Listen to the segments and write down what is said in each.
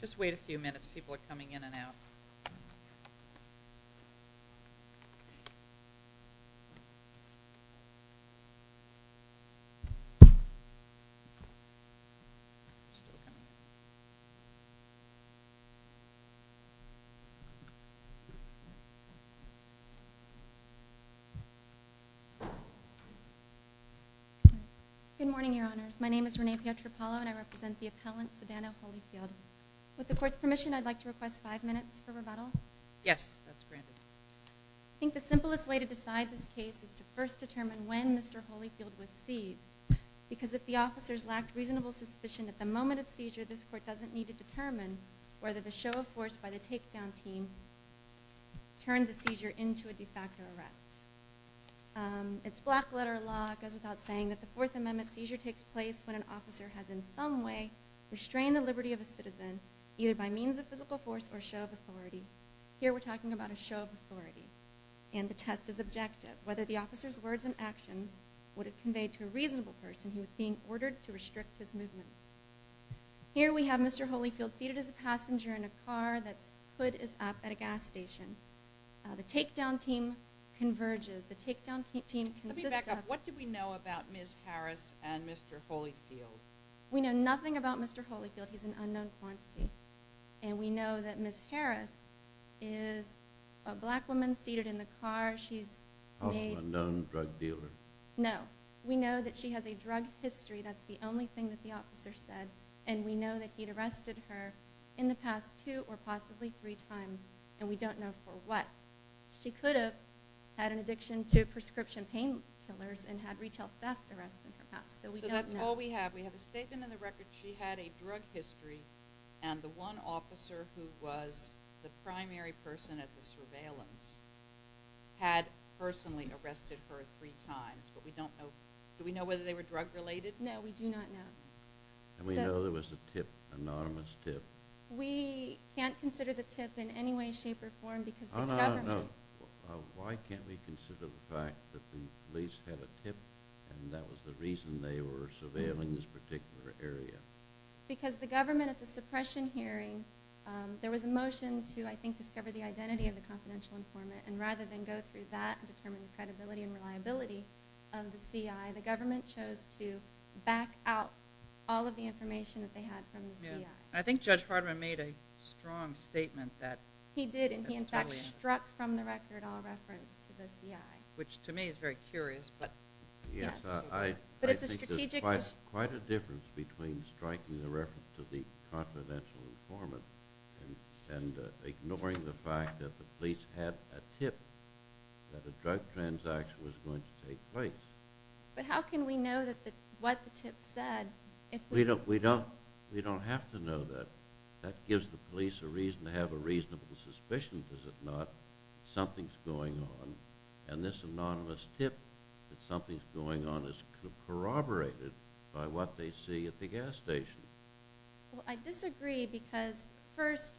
Just wait a few minutes, people are coming in and out. Good morning, Your Honors. My name is Renee Pietropalo and I represent the appellant, Savannah Holyfield. With the court's permission, I'd like to request five minutes for rebuttal. Yes, that's granted. I think the simplest way to decide this case is to first determine when Mr. Holyfield was seized because if the officers lacked reasonable suspicion at the moment of seizure, this court doesn't need to determine whether the show of force by the takedown team turned the seizure into a de facto arrest. It's black letter law. It goes without saying that the Fourth Amendment seizure takes place when an officer has in some way restrained the liberty of a citizen either by means of physical force or show of authority. Here we're talking about a show of authority and the test is objective. Whether the officer's words and actions would have conveyed to a reasonable person who was being ordered to restrict his movement. Here we have Mr. Holyfield seated as a passenger in a car that's hood is up at a gas station. The takedown team converges. Let me back up. What do we know about Ms. Harris and Mr. Holyfield? We know nothing about Mr. Holyfield. He's an unknown quantity. And we know that Ms. Harris is a black woman seated in the car. She's a known drug dealer. No. We know that she has a drug history. That's the only thing that the officer said. And we know that he'd arrested her in the past two or possibly three times. And we don't know for what. She could have had an addiction to prescription painkillers and had retail theft arrests in her past. So we don't know. So that's all we have. We have a statement in the record that she had a drug history and the one officer who was the primary person at the surveillance had personally arrested her three times. But we don't know. Do we know whether they were drug related? No, we do not know. And we know there was a tip, anonymous tip. We can't consider the tip in any way, shape, or form because the government. Why can't we consider the fact that the police had a tip and that was the reason they were surveilling this particular area? Because the government at the suppression hearing, there was a motion to, I think, discover the identity of the confidential informant. And rather than go through that and determine the credibility and reliability of the CI, the government chose to back out all of the information that they had from the CI. I think Judge Hardman made a strong statement that he did, and he, in fact, struck from the record all reference to the CI. Which, to me, is very curious. Yes, I think there's quite a difference between striking the reference to the confidential informant and ignoring the fact that the police had a tip that a drug transaction was going to take place. But how can we know what the tip said? We don't have to know that. That gives the police a reason to have a reasonable suspicion, does it not, that something's going on. And this anonymous tip that something's going on is corroborated by what they see at the gas station. Well, I disagree because, first,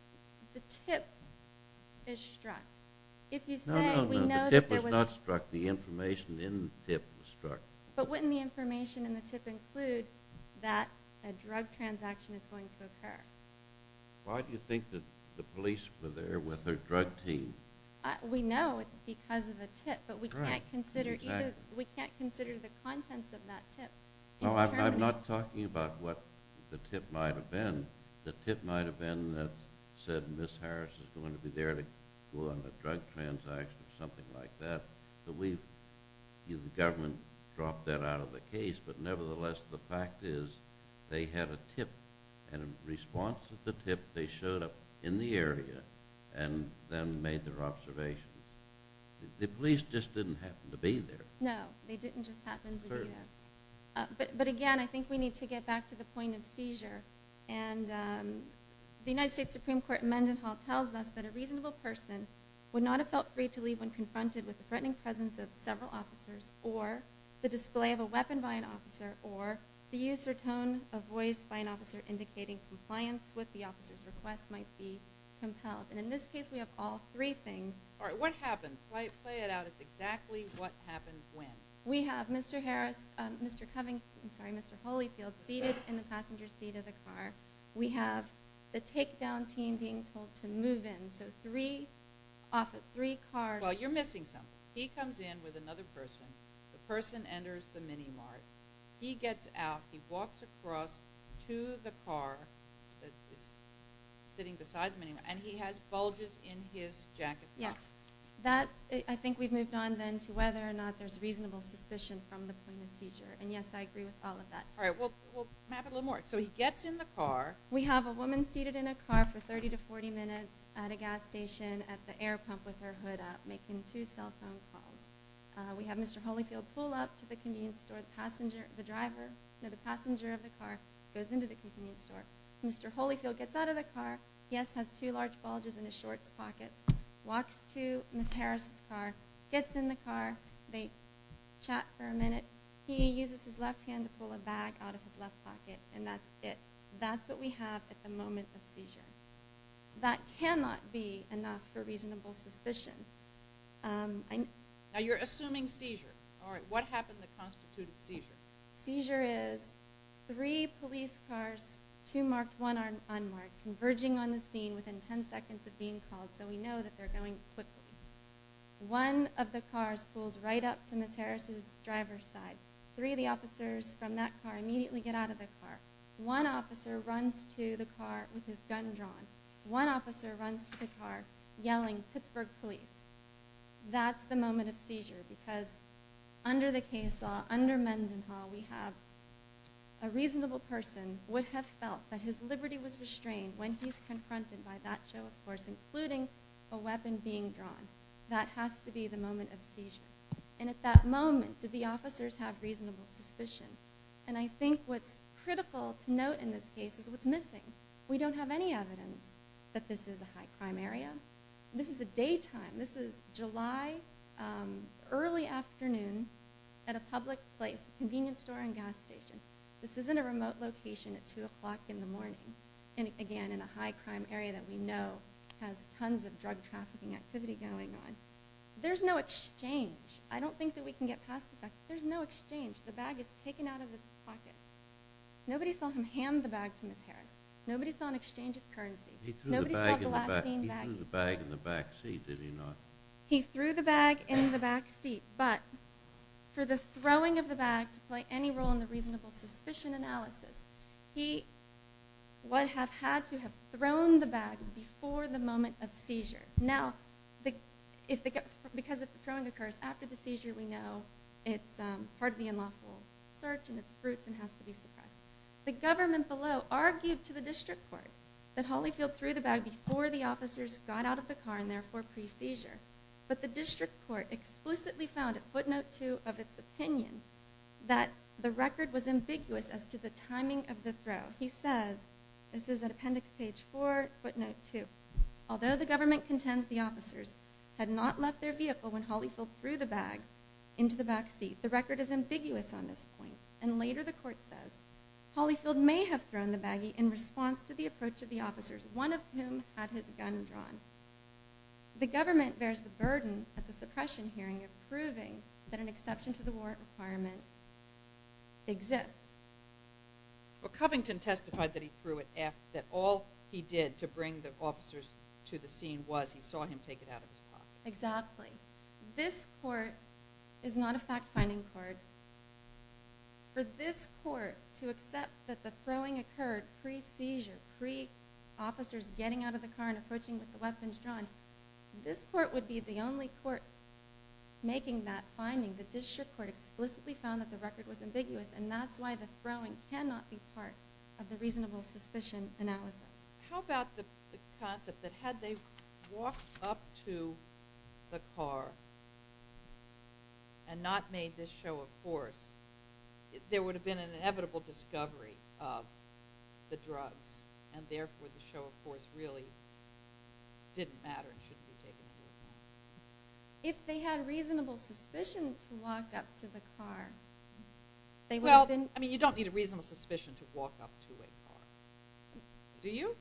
the tip is struck. No, no, no. The tip was not struck. The information in the tip was struck. But wouldn't the information in the tip include that a drug transaction is going to occur? Why do you think that the police were there with their drug team? We know it's because of the tip, but we can't consider the contents of that tip. No, I'm not talking about what the tip might have been. The tip might have been that said Ms. Harris is going to be there to go on a drug transaction or something like that. The government dropped that out of the case, but nevertheless the fact is they had a tip, and in response to the tip they showed up in the area and then made their observation. The police just didn't happen to be there. No, they didn't just happen to be there. But again, I think we need to get back to the point of seizure. And the United States Supreme Court in Mendenhall tells us that a reasonable person would not have felt free to leave when confronted with the threatening presence of several officers or the display of a weapon by an officer or the use or tone of voice by an officer indicating compliance with the officer's request might be compelled. And in this case we have all three things. All right, what happened? Play it out as exactly what happened when. We have Mr. Harris, Mr. Covey, I'm sorry, Mr. Holyfield seated in the passenger seat of the car. We have the takedown team being told to move in. So three cars... Well, you're missing something. He comes in with another person. The person enters the mini-mart. He gets out, he walks across to the car that is sitting beside the mini-mart, and he has bulges in his jacket. Yes, I think we've moved on then to whether or not there's reasonable suspicion from the point of seizure. And yes, I agree with all of that. All right, we'll map it a little more. So he gets in the car. We have a woman seated in a car for 30 to 40 minutes at a gas station at the air pump with her hood up making two cell phone calls. We have Mr. Holyfield pull up to the convenience store. The driver, no, the passenger of the car goes into the convenience store. Mr. Holyfield gets out of the car. Yes, has two large bulges in his shorts pockets. Walks to Ms. Harris' car, gets in the car. They chat for a minute. He uses his left hand to pull a bag out of his left pocket, and that's it. That's what we have at the moment of seizure. That cannot be enough for reasonable suspicion. Now, you're assuming seizure. All right, what happened that constituted seizure? Seizure is three police cars, two marked, one unmarked, converging on the scene within 10 seconds of being called so we know that they're going quickly. One of the cars pulls right up to Ms. Harris' driver's side. Three of the officers from that car immediately get out of the car. One officer runs to the car with his gun drawn. One officer runs to the car yelling, Pittsburgh police. That's the moment of seizure because under the case law, under Mendenhall, we have a reasonable person would have felt that his liberty was restrained when he's confronted by that show, of course, including a weapon being drawn. That has to be the moment of seizure. And at that moment, do the officers have reasonable suspicion? And I think what's critical to note in this case is what's missing. We don't have any evidence that this is a high-crime area. This is a daytime. This is July early afternoon at a public place, a convenience store and gas station. This isn't a remote location at 2 o'clock in the morning, again, in a high-crime area that we know has tons of drug trafficking activity going on. There's no exchange. I don't think that we can get past the fact that there's no exchange. The bag is taken out of his pocket. Nobody saw him hand the bag to Ms. Harris. Nobody saw an exchange of currency. Nobody saw the lacidine bag. He threw the bag in the back seat, did he not? He threw the bag in the back seat, but for the throwing of the bag to play any role in the reasonable suspicion analysis, he would have had to have thrown the bag before the moment of seizure. Now, because if the throwing occurs after the seizure, we know it's part of the unlawful search and it's fruits and has to be suppressed. The government below argued to the district court that Holly filled through the bag before the officers got out of the car and therefore pre-seizure, but the district court explicitly found at footnote 2 of its opinion that the record was ambiguous as to the timing of the throw. He says, this is at appendix page 4, footnote 2, although the government contends the officers had not left their vehicle when Holly filled through the bag into the back seat. The record is ambiguous on this point, and later the court says, Holly filled may have thrown the baggie in response to the approach of the officers, one of whom had his gun drawn. The government bears the burden at the suppression hearing of proving that an exception to the warrant requirement exists. Well, Covington testified that he threw it was he saw him take it out of his car. Exactly. This court is not a fact-finding court. For this court to accept that the throwing occurred pre-seizure, pre-officers getting out of the car and approaching with the weapons drawn, this court would be the only court making that finding. The district court explicitly found that the record was ambiguous, and that's why the throwing cannot be part of the reasonable suspicion analysis. How about the concept that had they walked up to the car and not made this show of force, there would have been an inevitable discovery of the drugs, and therefore the show of force really didn't matter and should be taken into account. If they had reasonable suspicion to walk up to the car, they would have been... Well, I mean, you don't need a reasonable suspicion to walk up to a car. Do you?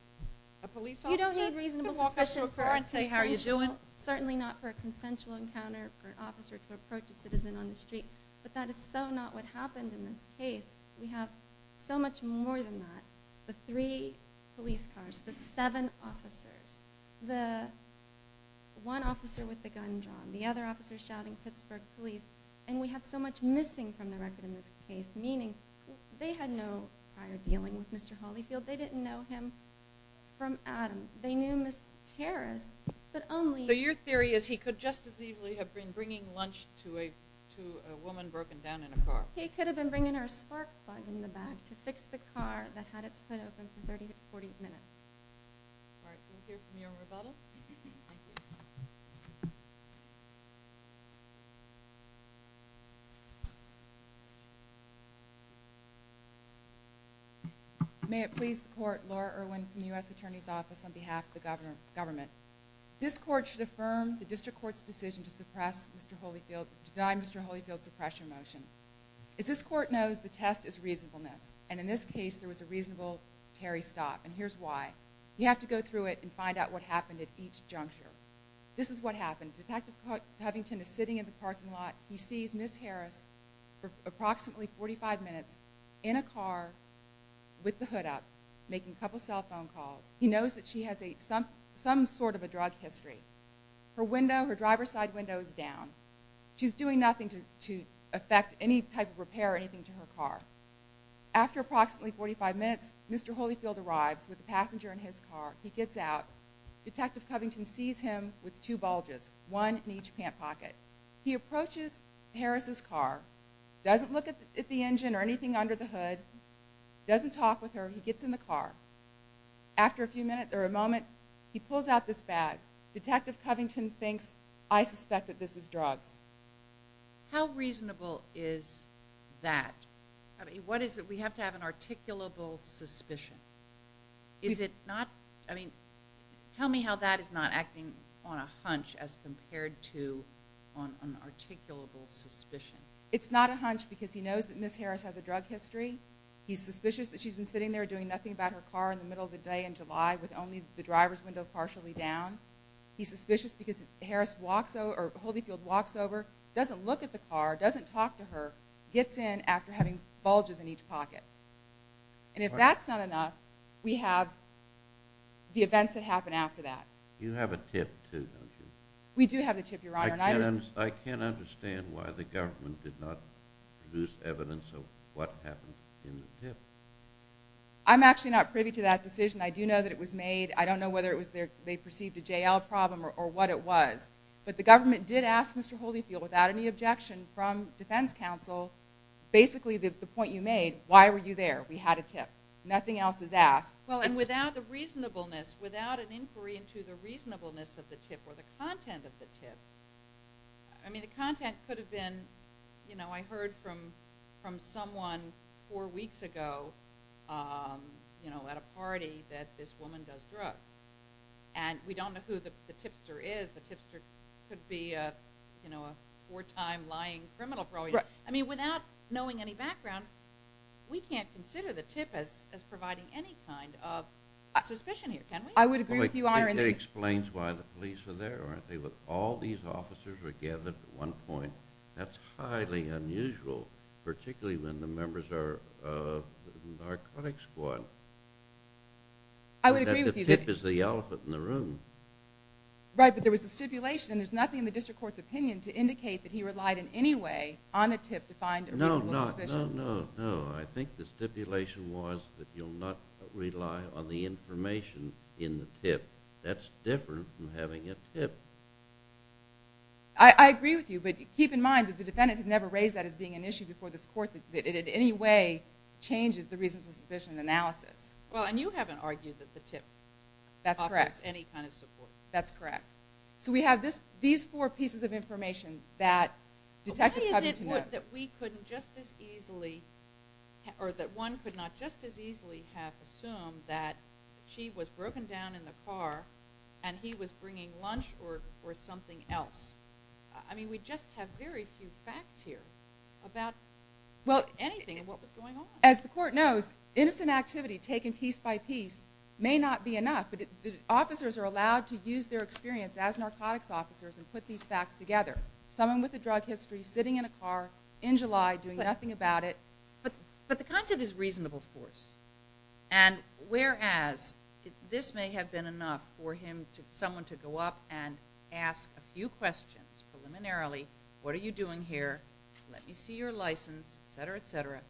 A police officer? You don't need reasonable suspicion to walk up to a car and say, how are you doing? Certainly not for a consensual encounter for an officer to approach a citizen on the street, but that is so not what happened in this case. We have so much more than that. The three police cars, the seven officers, the one officer with the gun drawn, the other officer shouting, Pittsburgh police, and we have so much missing from the record in this case, they had no prior dealing with Mr. Holyfield. They didn't know him from Adam. They knew Ms. Harris, but only... So your theory is he could just as easily have been bringing lunch to a woman broken down in a car. He could have been bringing her a spark plug in the back to fix the car that had its hood open for 30 to 40 minutes. We'll hear from you on rebuttal. Thank you. May it please the court, Laura Irwin from the U.S. Attorney's Office on behalf of the government. This court should affirm the district court's decision to deny Mr. Holyfield's suppression motion. As this court knows, the test is reasonableness, and in this case, there was a reasonable tarry stop, and here's why. You have to go through it and find out what happened at each juncture. This is what happened. Detective Covington is sitting in the parking lot. He sees Ms. Harris for approximately 45 minutes in a car with the hood up, making a couple cell phone calls. He knows that she has some sort of a drug history. Her window, her driver's side window is down. She's doing nothing to affect any type of repair or anything to her car. After approximately 45 minutes, Mr. Holyfield arrives with the passenger in his car. He gets out. Detective Covington sees him with two bulges, one in each pant pocket. He approaches Harris' car, doesn't look at the engine or anything under the hood, doesn't talk with her. He gets in the car. After a few minutes or a moment, he pulls out this bag. Detective Covington thinks, I suspect that this is drugs. How reasonable is that? What is it? We have to have an articulable suspicion. Is it not? I mean, tell me how that is not acting on a hunch as compared to an articulable suspicion. It's not a hunch because he knows that Ms. Harris has a drug history. He's suspicious that she's been sitting there doing nothing about her car in the middle of the day in July with only the driver's window partially down. He's suspicious because Holyfield walks over, doesn't look at the car, doesn't talk to her, gets in after having bulges in each pocket. And if that's not enough, we have the events that happen after that. You have a tip, too, don't you? We do have a tip, Your Honor. I can't understand why the government did not produce evidence of what happened in the tip. I'm actually not privy to that decision. I do know that it was made. I don't know whether they perceived a J.L. problem or what it was. But the government did ask Mr. Holyfield, without any objection from defense counsel, basically the point you made, why were you there? We had a tip. Nothing else is asked. Well, and without the reasonableness, without an inquiry into the reasonableness of the tip or the content of the tip, I mean, the content could have been, you know, I heard from someone four weeks ago at a party that this woman does drugs. And we don't know who the tipster is. The tipster could be a four-time lying criminal. I mean, without knowing any background, we can't consider the tip as providing any kind of suspicion here, can we? I would agree with you, Your Honor. It explains why the police were there, aren't they? All these officers were gathered at one point. That's highly unusual, particularly when the members are the narcotics squad. I would agree with you. The tip is the elephant in the room. Right, but there was a stipulation, and there's nothing in the district court's opinion to indicate that he relied in any way on the tip to find a reasonable suspicion. No, no, no, no. I think the stipulation was that you'll not rely on the information in the tip. That's different from having a tip. I agree with you, but keep in mind that the defendant has never raised that as being an issue before this court, that it in any way changes the reasonable suspicion analysis. Well, and you haven't argued that the tip... That's correct. ...offers any kind of support. That's correct. So we have these four pieces of information that Detective Covington knows. Why is it that we couldn't just as easily, or that one could not just as easily have assumed that she was broken down in the car and he was bringing lunch or something else? I mean, we just have very few facts here about anything and what was going on. As the court knows, innocent activity taken piece by piece may not be enough, but the officers are allowed to use their experience as narcotics officers and put these facts together. Someone with a drug history, sitting in a car in July, doing nothing about it. But the concept is reasonable, of course. And whereas this may have been enough for someone to go up and ask a few questions preliminarily, what are you doing here, let me see your license, etc., etc.,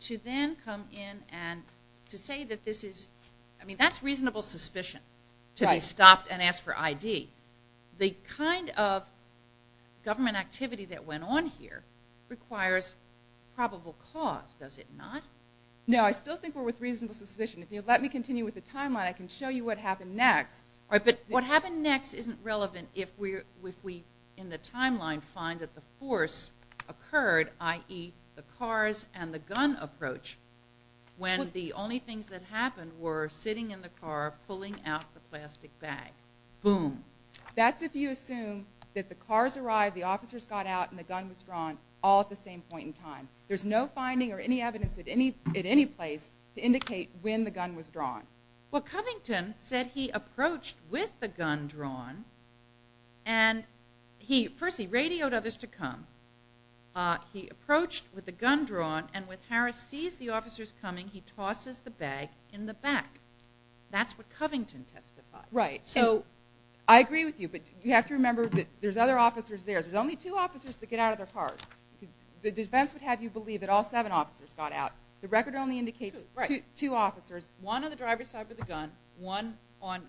to then come in and to say that this is... I mean, that's reasonable suspicion, to be stopped and asked for ID. The kind of government activity that went on here requires probable cause, does it not? No, I still think we're with reasonable suspicion. If you'll let me continue with the timeline, I can show you what happened next. All right, but what happened next isn't relevant if we, in the timeline, find that the force occurred, i.e., the cars and the gun approach, when the only things that happened were sitting in the car, pulling out the plastic bag. Boom. That's if you assume that the cars arrived, the officers got out, and the gun was drawn all at the same point in time. There's no finding or any evidence at any place to indicate when the gun was drawn. Well, Covington said he approached with the gun drawn, and first he radioed others to come. He approached with the gun drawn, and when Harris sees the officers coming, he tosses the bag in the back. That's what Covington testified. Right, so I agree with you, but you have to remember that there's other officers there. There's only two officers that get out of their cars. The defense would have you believe that all seven officers got out. The record only indicates two officers, one on the driver's side with a gun, one on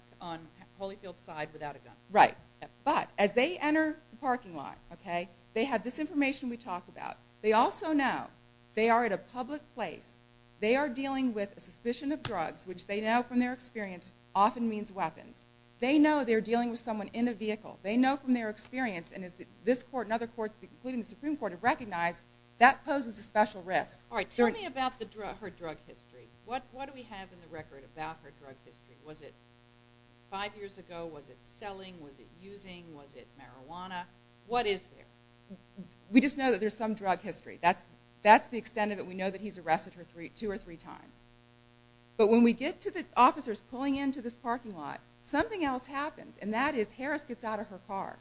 Holyfield's side without a gun. Right, but as they enter the parking lot, they have this information we talked about. They also know they are at a public place. They are dealing with a suspicion of drugs, which they know from their experience often means weapons. They know they're dealing with someone in a vehicle. They know from their experience, and as this court and other courts, including the Supreme Court, have recognized, that poses a special risk. All right, tell me about her drug history. What do we have in the record about her drug history? Was it five years ago? Was it selling? Was it using? Was it marijuana? What is there? We just know that there's some drug history. That's the extent of it. We know that he's arrested her two or three times. But when we get to the officers pulling into this parking lot, something else happens, and that is Harris gets out of her car.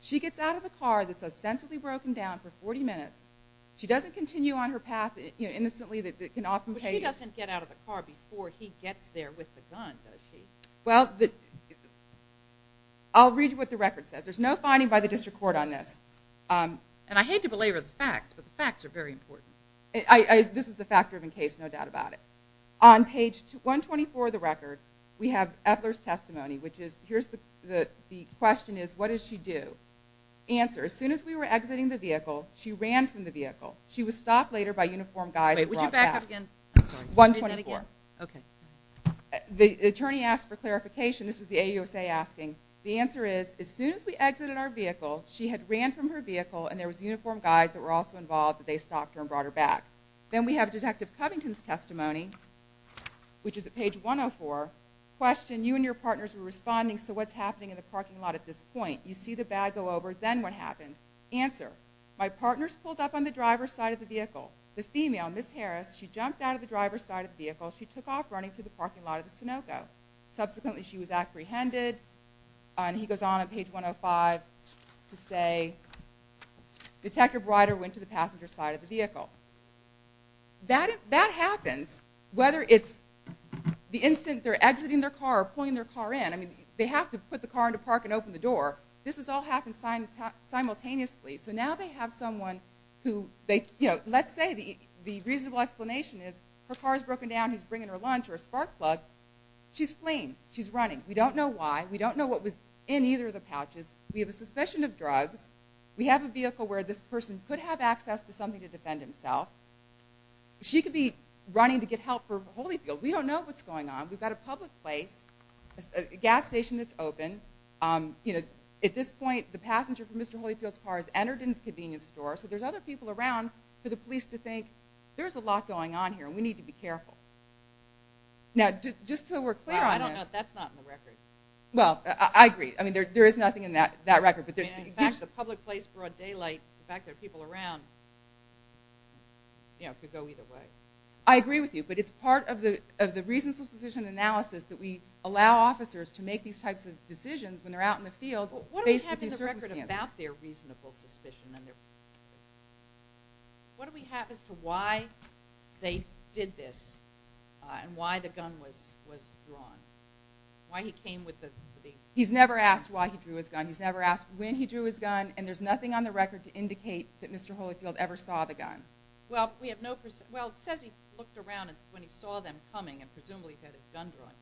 She gets out of the car that's ostensibly broken down for 40 minutes. She doesn't continue on her path innocently. But she doesn't get out of the car before he gets there with the gun, does she? Well, I'll read you what the record says. There's no finding by the district court on this. And I hate to belabor the facts, but the facts are very important. This is a fact-driven case, no doubt about it. On page 124 of the record, we have Epler's testimony, which is here's the question is, what did she do? Answer, as soon as we were exiting the vehicle, she ran from the vehicle. She was stopped later by uniformed guys. Wait, would you back up again? I'm sorry. 124. Okay. The attorney asked for clarification. This is the AUSA asking. The answer is, as soon as we exited our vehicle, she had ran from her vehicle, and there was uniformed guys that were also involved that they stopped her and brought her back. Then we have Detective Covington's testimony, which is at page 104. Question, you and your partners were responding, so what's happening in the parking lot at this point? You see the bag go over. Then what happened? Answer, my partner's pulled up on the driver's side of the vehicle. The female, Ms. Harris, she jumped out of the driver's side of the vehicle. She took off running to the parking lot of the Sunoco. Subsequently, she was apprehended, and he goes on on page 105 to say, Detective Ryder went to the passenger side of the vehicle. That happens whether it's the instant they're exiting their car or pulling their car in. They have to put the car into park and open the door. This has all happened simultaneously. Now they have someone who, let's say the reasonable explanation is her car's broken down. He's bringing her lunch or a spark plug. She's fleeing. She's running. We don't know why. We don't know what was in either of the pouches. We have a suspicion of drugs. We have a vehicle where this person could have access to something to defend himself. She could be running to get help for Holyfield. We don't know what's going on. We've got a public place, a gas station that's open. At this point, the passenger from Mr. Holyfield's car has entered in the convenience store, so there's other people around for the police to think, there's a lot going on here, and we need to be careful. Now, just so we're clear on this. I don't know if that's not in the record. Well, I agree. There is nothing in that record. In fact, the public place brought daylight. In fact, there are people around. It could go either way. I agree with you, but it's part of the reasonable suspicion analysis that we allow officers to make these types of decisions when they're out in the field faced with these circumstances. What do we have in the record about their reasonable suspicion? What do we have as to why they did this and why the gun was drawn? Why he came with the... He's never asked why he drew his gun. He's never asked when he drew his gun, and there's nothing on the record to indicate that Mr. Holyfield ever saw the gun. Well, we have no... Well, it says he looked around when he saw them coming and presumably had his gun drawn,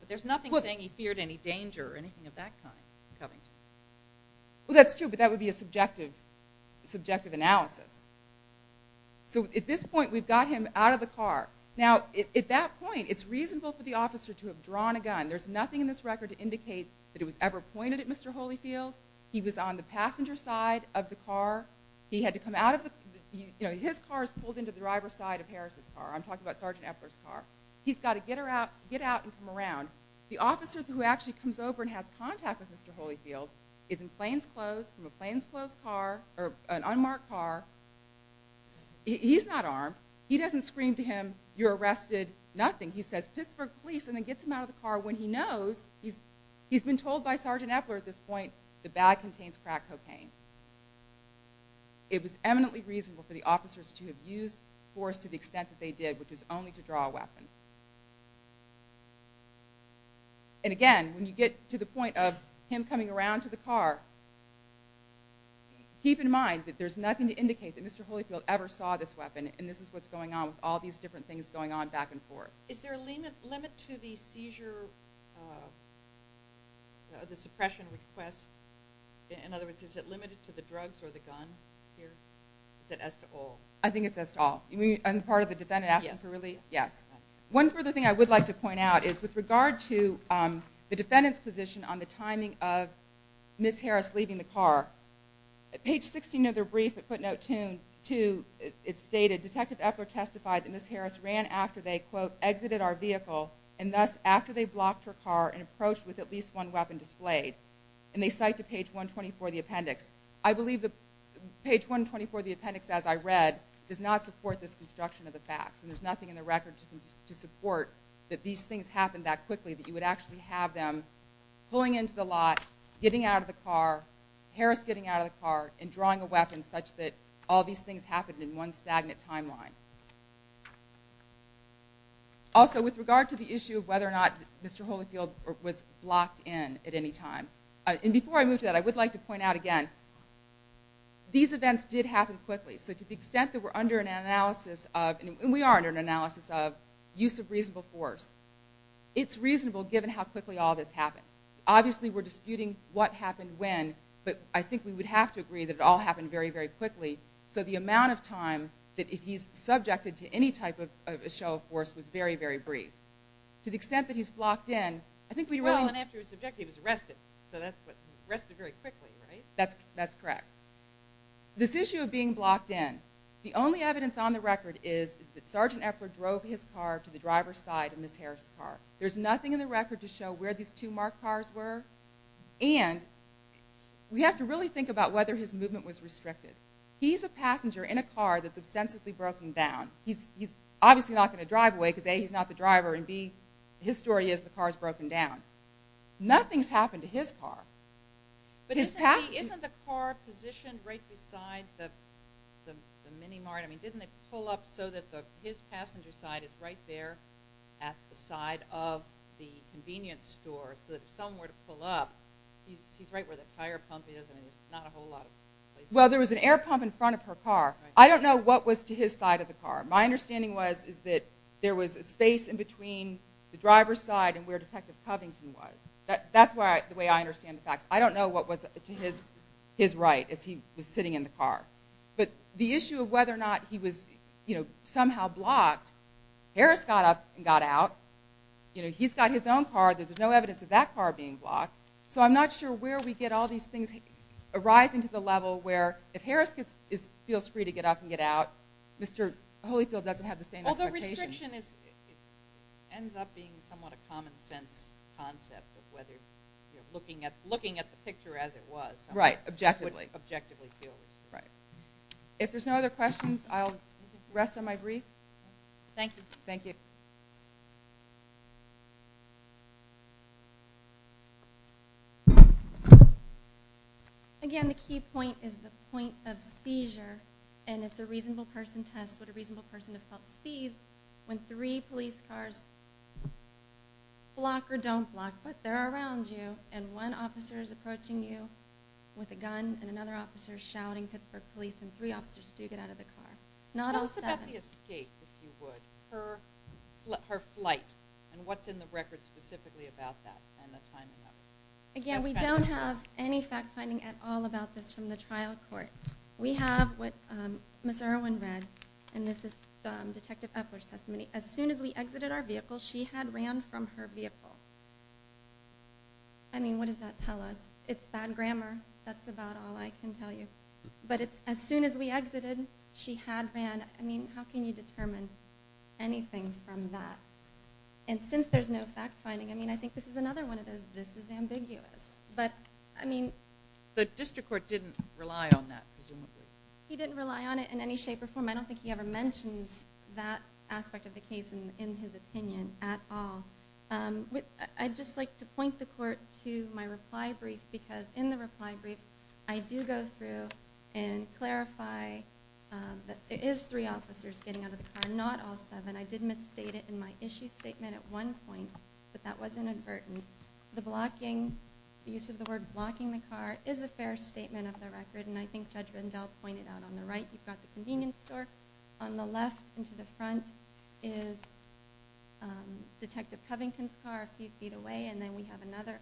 but there's nothing saying he feared any danger or anything of that kind coming to him. Well, that's true, but that would be a subjective analysis. So at this point, we've got him out of the car. Now, at that point, it's reasonable for the officer to have drawn a gun. There's nothing in this record to indicate that it was ever pointed at Mr. Holyfield. He was on the passenger side of the car. He had to come out of the... You know, his car is pulled into the driver's side of Harris' car. I'm talking about Sergeant Epler's car. He's got to get out and come around. The officer who actually comes over and has contact with Mr. Holyfield is in plainclothes from a plainclothes car, or an unmarked car. He's not armed. He doesn't scream to him, you're arrested, nothing. He says, piss for the police and then gets him out of the car when he knows. He's been told by Sergeant Epler at this point, the bag contains crack cocaine. It was eminently reasonable for the officers to have used force to the extent that they did, which is only to draw a weapon. And again, when you get to the point of him coming around to the car, keep in mind that there's nothing to indicate that Mr. Holyfield ever saw this weapon, and this is what's going on with all these different things going on back and forth. Is there a limit to the seizure... the suppression request? In other words, is it limited to the drugs or the gun here? Is it as to all? I think it's as to all. And part of the defendant asking for relief? Yes. One further thing I would like to point out is with regard to the defendant's position on the timing of Ms. Harris leaving the car, page 16 of their brief at footnote 2, it stated, Detective Epler testified that Ms. Harris ran after they, quote, exited our vehicle, and thus after they blocked her car and approached with at least one weapon displayed. And they cite to page 124 of the appendix. I believe that page 124 of the appendix, as I read, does not support this construction of the facts, and there's nothing in the record to support that these things happened that quickly, that you would actually have them pulling into the lot, getting out of the car, Harris getting out of the car, and drawing a weapon such that all these things happened in one stagnant timeline. Also, with regard to the issue of whether or not And before I move to that, I would like to point out again, these events did happen quickly, so to the extent that we're under an analysis of, and we are under an analysis of, use of reasonable force, it's reasonable given how quickly all this happened. Obviously, we're disputing what happened when, but I think we would have to agree that it all happened very, very quickly, so the amount of time that he's subjected to any type of a show of force was very, very brief. To the extent that he's blocked in, I think we really... So that's what... Arrested very quickly, right? That's correct. This issue of being blocked in, the only evidence on the record is that Sergeant Efford drove his car to the driver's side of Ms. Harris' car. There's nothing in the record to show where these two marked cars were, and we have to really think about whether his movement was restricted. He's a passenger in a car that's ostensibly broken down. He's obviously not going to drive away because A, he's not the driver, and B, his story is the car's broken down. Nothing's happened to his car. But isn't the car positioned right beside the mini mart? I mean, didn't they pull up so that his passenger's side is right there at the side of the convenience store so that if someone were to pull up, he's right where the tire pump is and there's not a whole lot of... Well, there was an air pump in front of her car. I don't know what was to his side of the car. My understanding was is that there was a space in between the driver's side and where Detective Covington was. That's the way I understand the facts. I don't know what was to his right as he was sitting in the car. But the issue of whether or not he was somehow blocked, Harris got up and got out. He's got his own car. There's no evidence of that car being blocked. So I'm not sure where we get all these things arising to the level where if Harris feels free to get up and get out, Mr. Holyfield doesn't have the same expectation. Although restriction ends up being somewhat a common sense concept of whether looking at the picture as it was... Right, objectively. ...would objectively feel... Right. If there's no other questions, I'll rest on my brief. Thank you. Thank you. Again, the key point is the point of seizure. And it's a reasonable person test what a reasonable person has felt seized when three police cars block or don't block, but they're around you and one officer is approaching you with a gun and another officer is shouting, Pittsburgh Police, and three officers do get out of the car. Not all seven. What else about the escape, if you would, her flight, and what's in the record specifically about that and the timing of it? Again, we don't have any fact-finding at all about this from the trial court. We have what Ms. Irwin read, and this is Detective Epler's testimony. As soon as we exited our vehicle, she had ran from her vehicle. I mean, what does that tell us? It's bad grammar. That's about all I can tell you. But it's as soon as we exited, she had ran. I mean, how can you determine anything from that? And since there's no fact-finding, I mean, I think this is another one of those this is ambiguous. But, I mean... The district court didn't rely on that, presumably. He didn't rely on it in any shape or form. I don't think he ever mentions that aspect of the case in his opinion at all. I'd just like to point the court to my reply brief, because in the reply brief, I do go through and clarify that it is three officers getting out of the car, not all seven. I did misstate it in my issue statement at one point, but that was inadvertent. The blocking, the use of the word blocking the car, is a fair statement of the record, and I think Judge Rendell pointed out that on the right, you've got the convenience store. On the left, and to the front, is Detective Covington's car a few feet away, and then we have another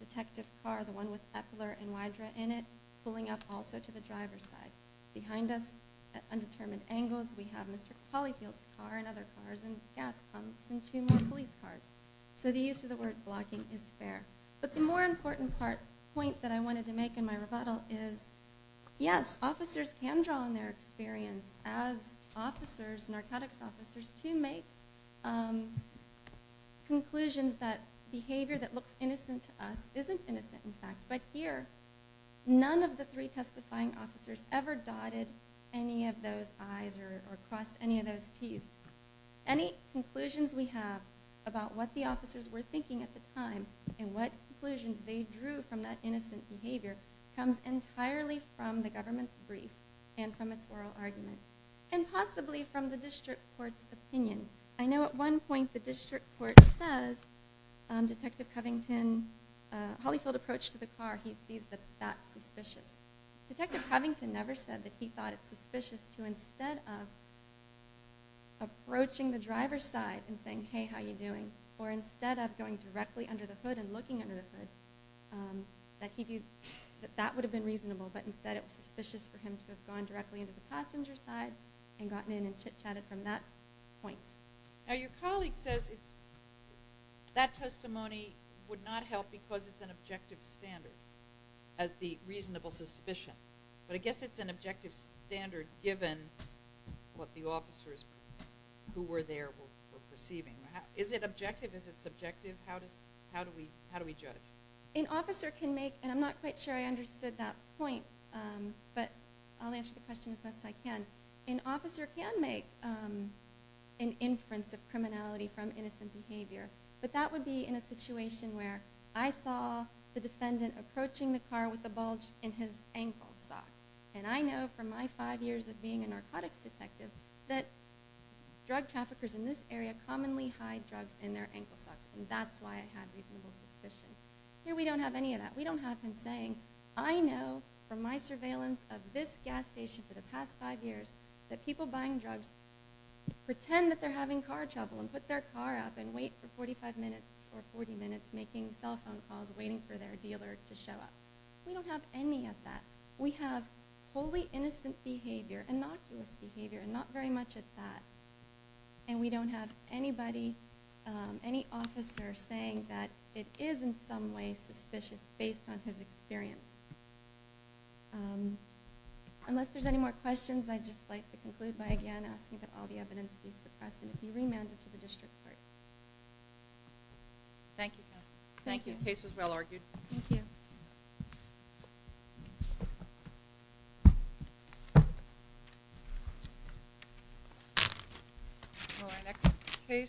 detective car, the one with Epler and Wydra in it, pulling up also to the driver's side. Behind us, at undetermined angles, we have Mr. Caulfield's car and other cars, and gas pumps, and two more police cars. So the use of the word blocking is fair. But the more important point that I wanted to make in my rebuttal is, yes, officers can draw on their experience as officers, narcotics officers, to make conclusions that behavior that looks innocent to us isn't innocent, in fact. But here, none of the three testifying officers ever dotted any of those I's or crossed any of those T's. Any conclusions we have about what the officers were thinking at the time and what conclusions they drew from that innocent behavior comes entirely from the government's brief and from its oral argument, and possibly from the district court's opinion. I know at one point, the district court says, Detective Covington, Hollyfield approached the car, he sees that that's suspicious. Detective Covington never said that he thought it's suspicious to instead of approaching the driver's side and saying, hey, how you doing, or instead of going directly under the hood and looking under the hood, that that would have been reasonable. But instead, it was suspicious for him to have gone directly under the passenger's side and gotten in and chit-chatted from that point. Now, your colleague says that testimony would not help because it's an objective standard, the reasonable suspicion. But I guess it's an objective standard given what the officers who were there were perceiving. Is it objective? Is it subjective? How do we judge? An officer can make, and I'm not quite sure I understood that point, but I'll answer the question as best I can. An officer can make an inference of criminality from innocent behavior, but that would be in a situation where I saw the defendant approaching the car with a bulge in his ankle sock. And I know from my five years of being a narcotics detective that drug traffickers in this area commonly hide drugs in their ankle socks, and that's why I have reasonable suspicion. Here we don't have any of that. We don't have him saying, I know from my surveillance of this gas station for the past five years that people buying drugs pretend that they're having car trouble and put their car up and wait for 45 minutes or 40 minutes making cell phone calls waiting for their dealer to show up. We don't have any of that. We have wholly innocent behavior, innocuous behavior, and not very much of that. And we don't have anybody, any officer saying that it is in some way suspicious based on his experience. Unless there's any more questions, I'd just like to conclude by again asking that all the evidence be suppressed and it be remanded to the district court. Thank you. Thank you. The case was well argued. Thank you. Thank you.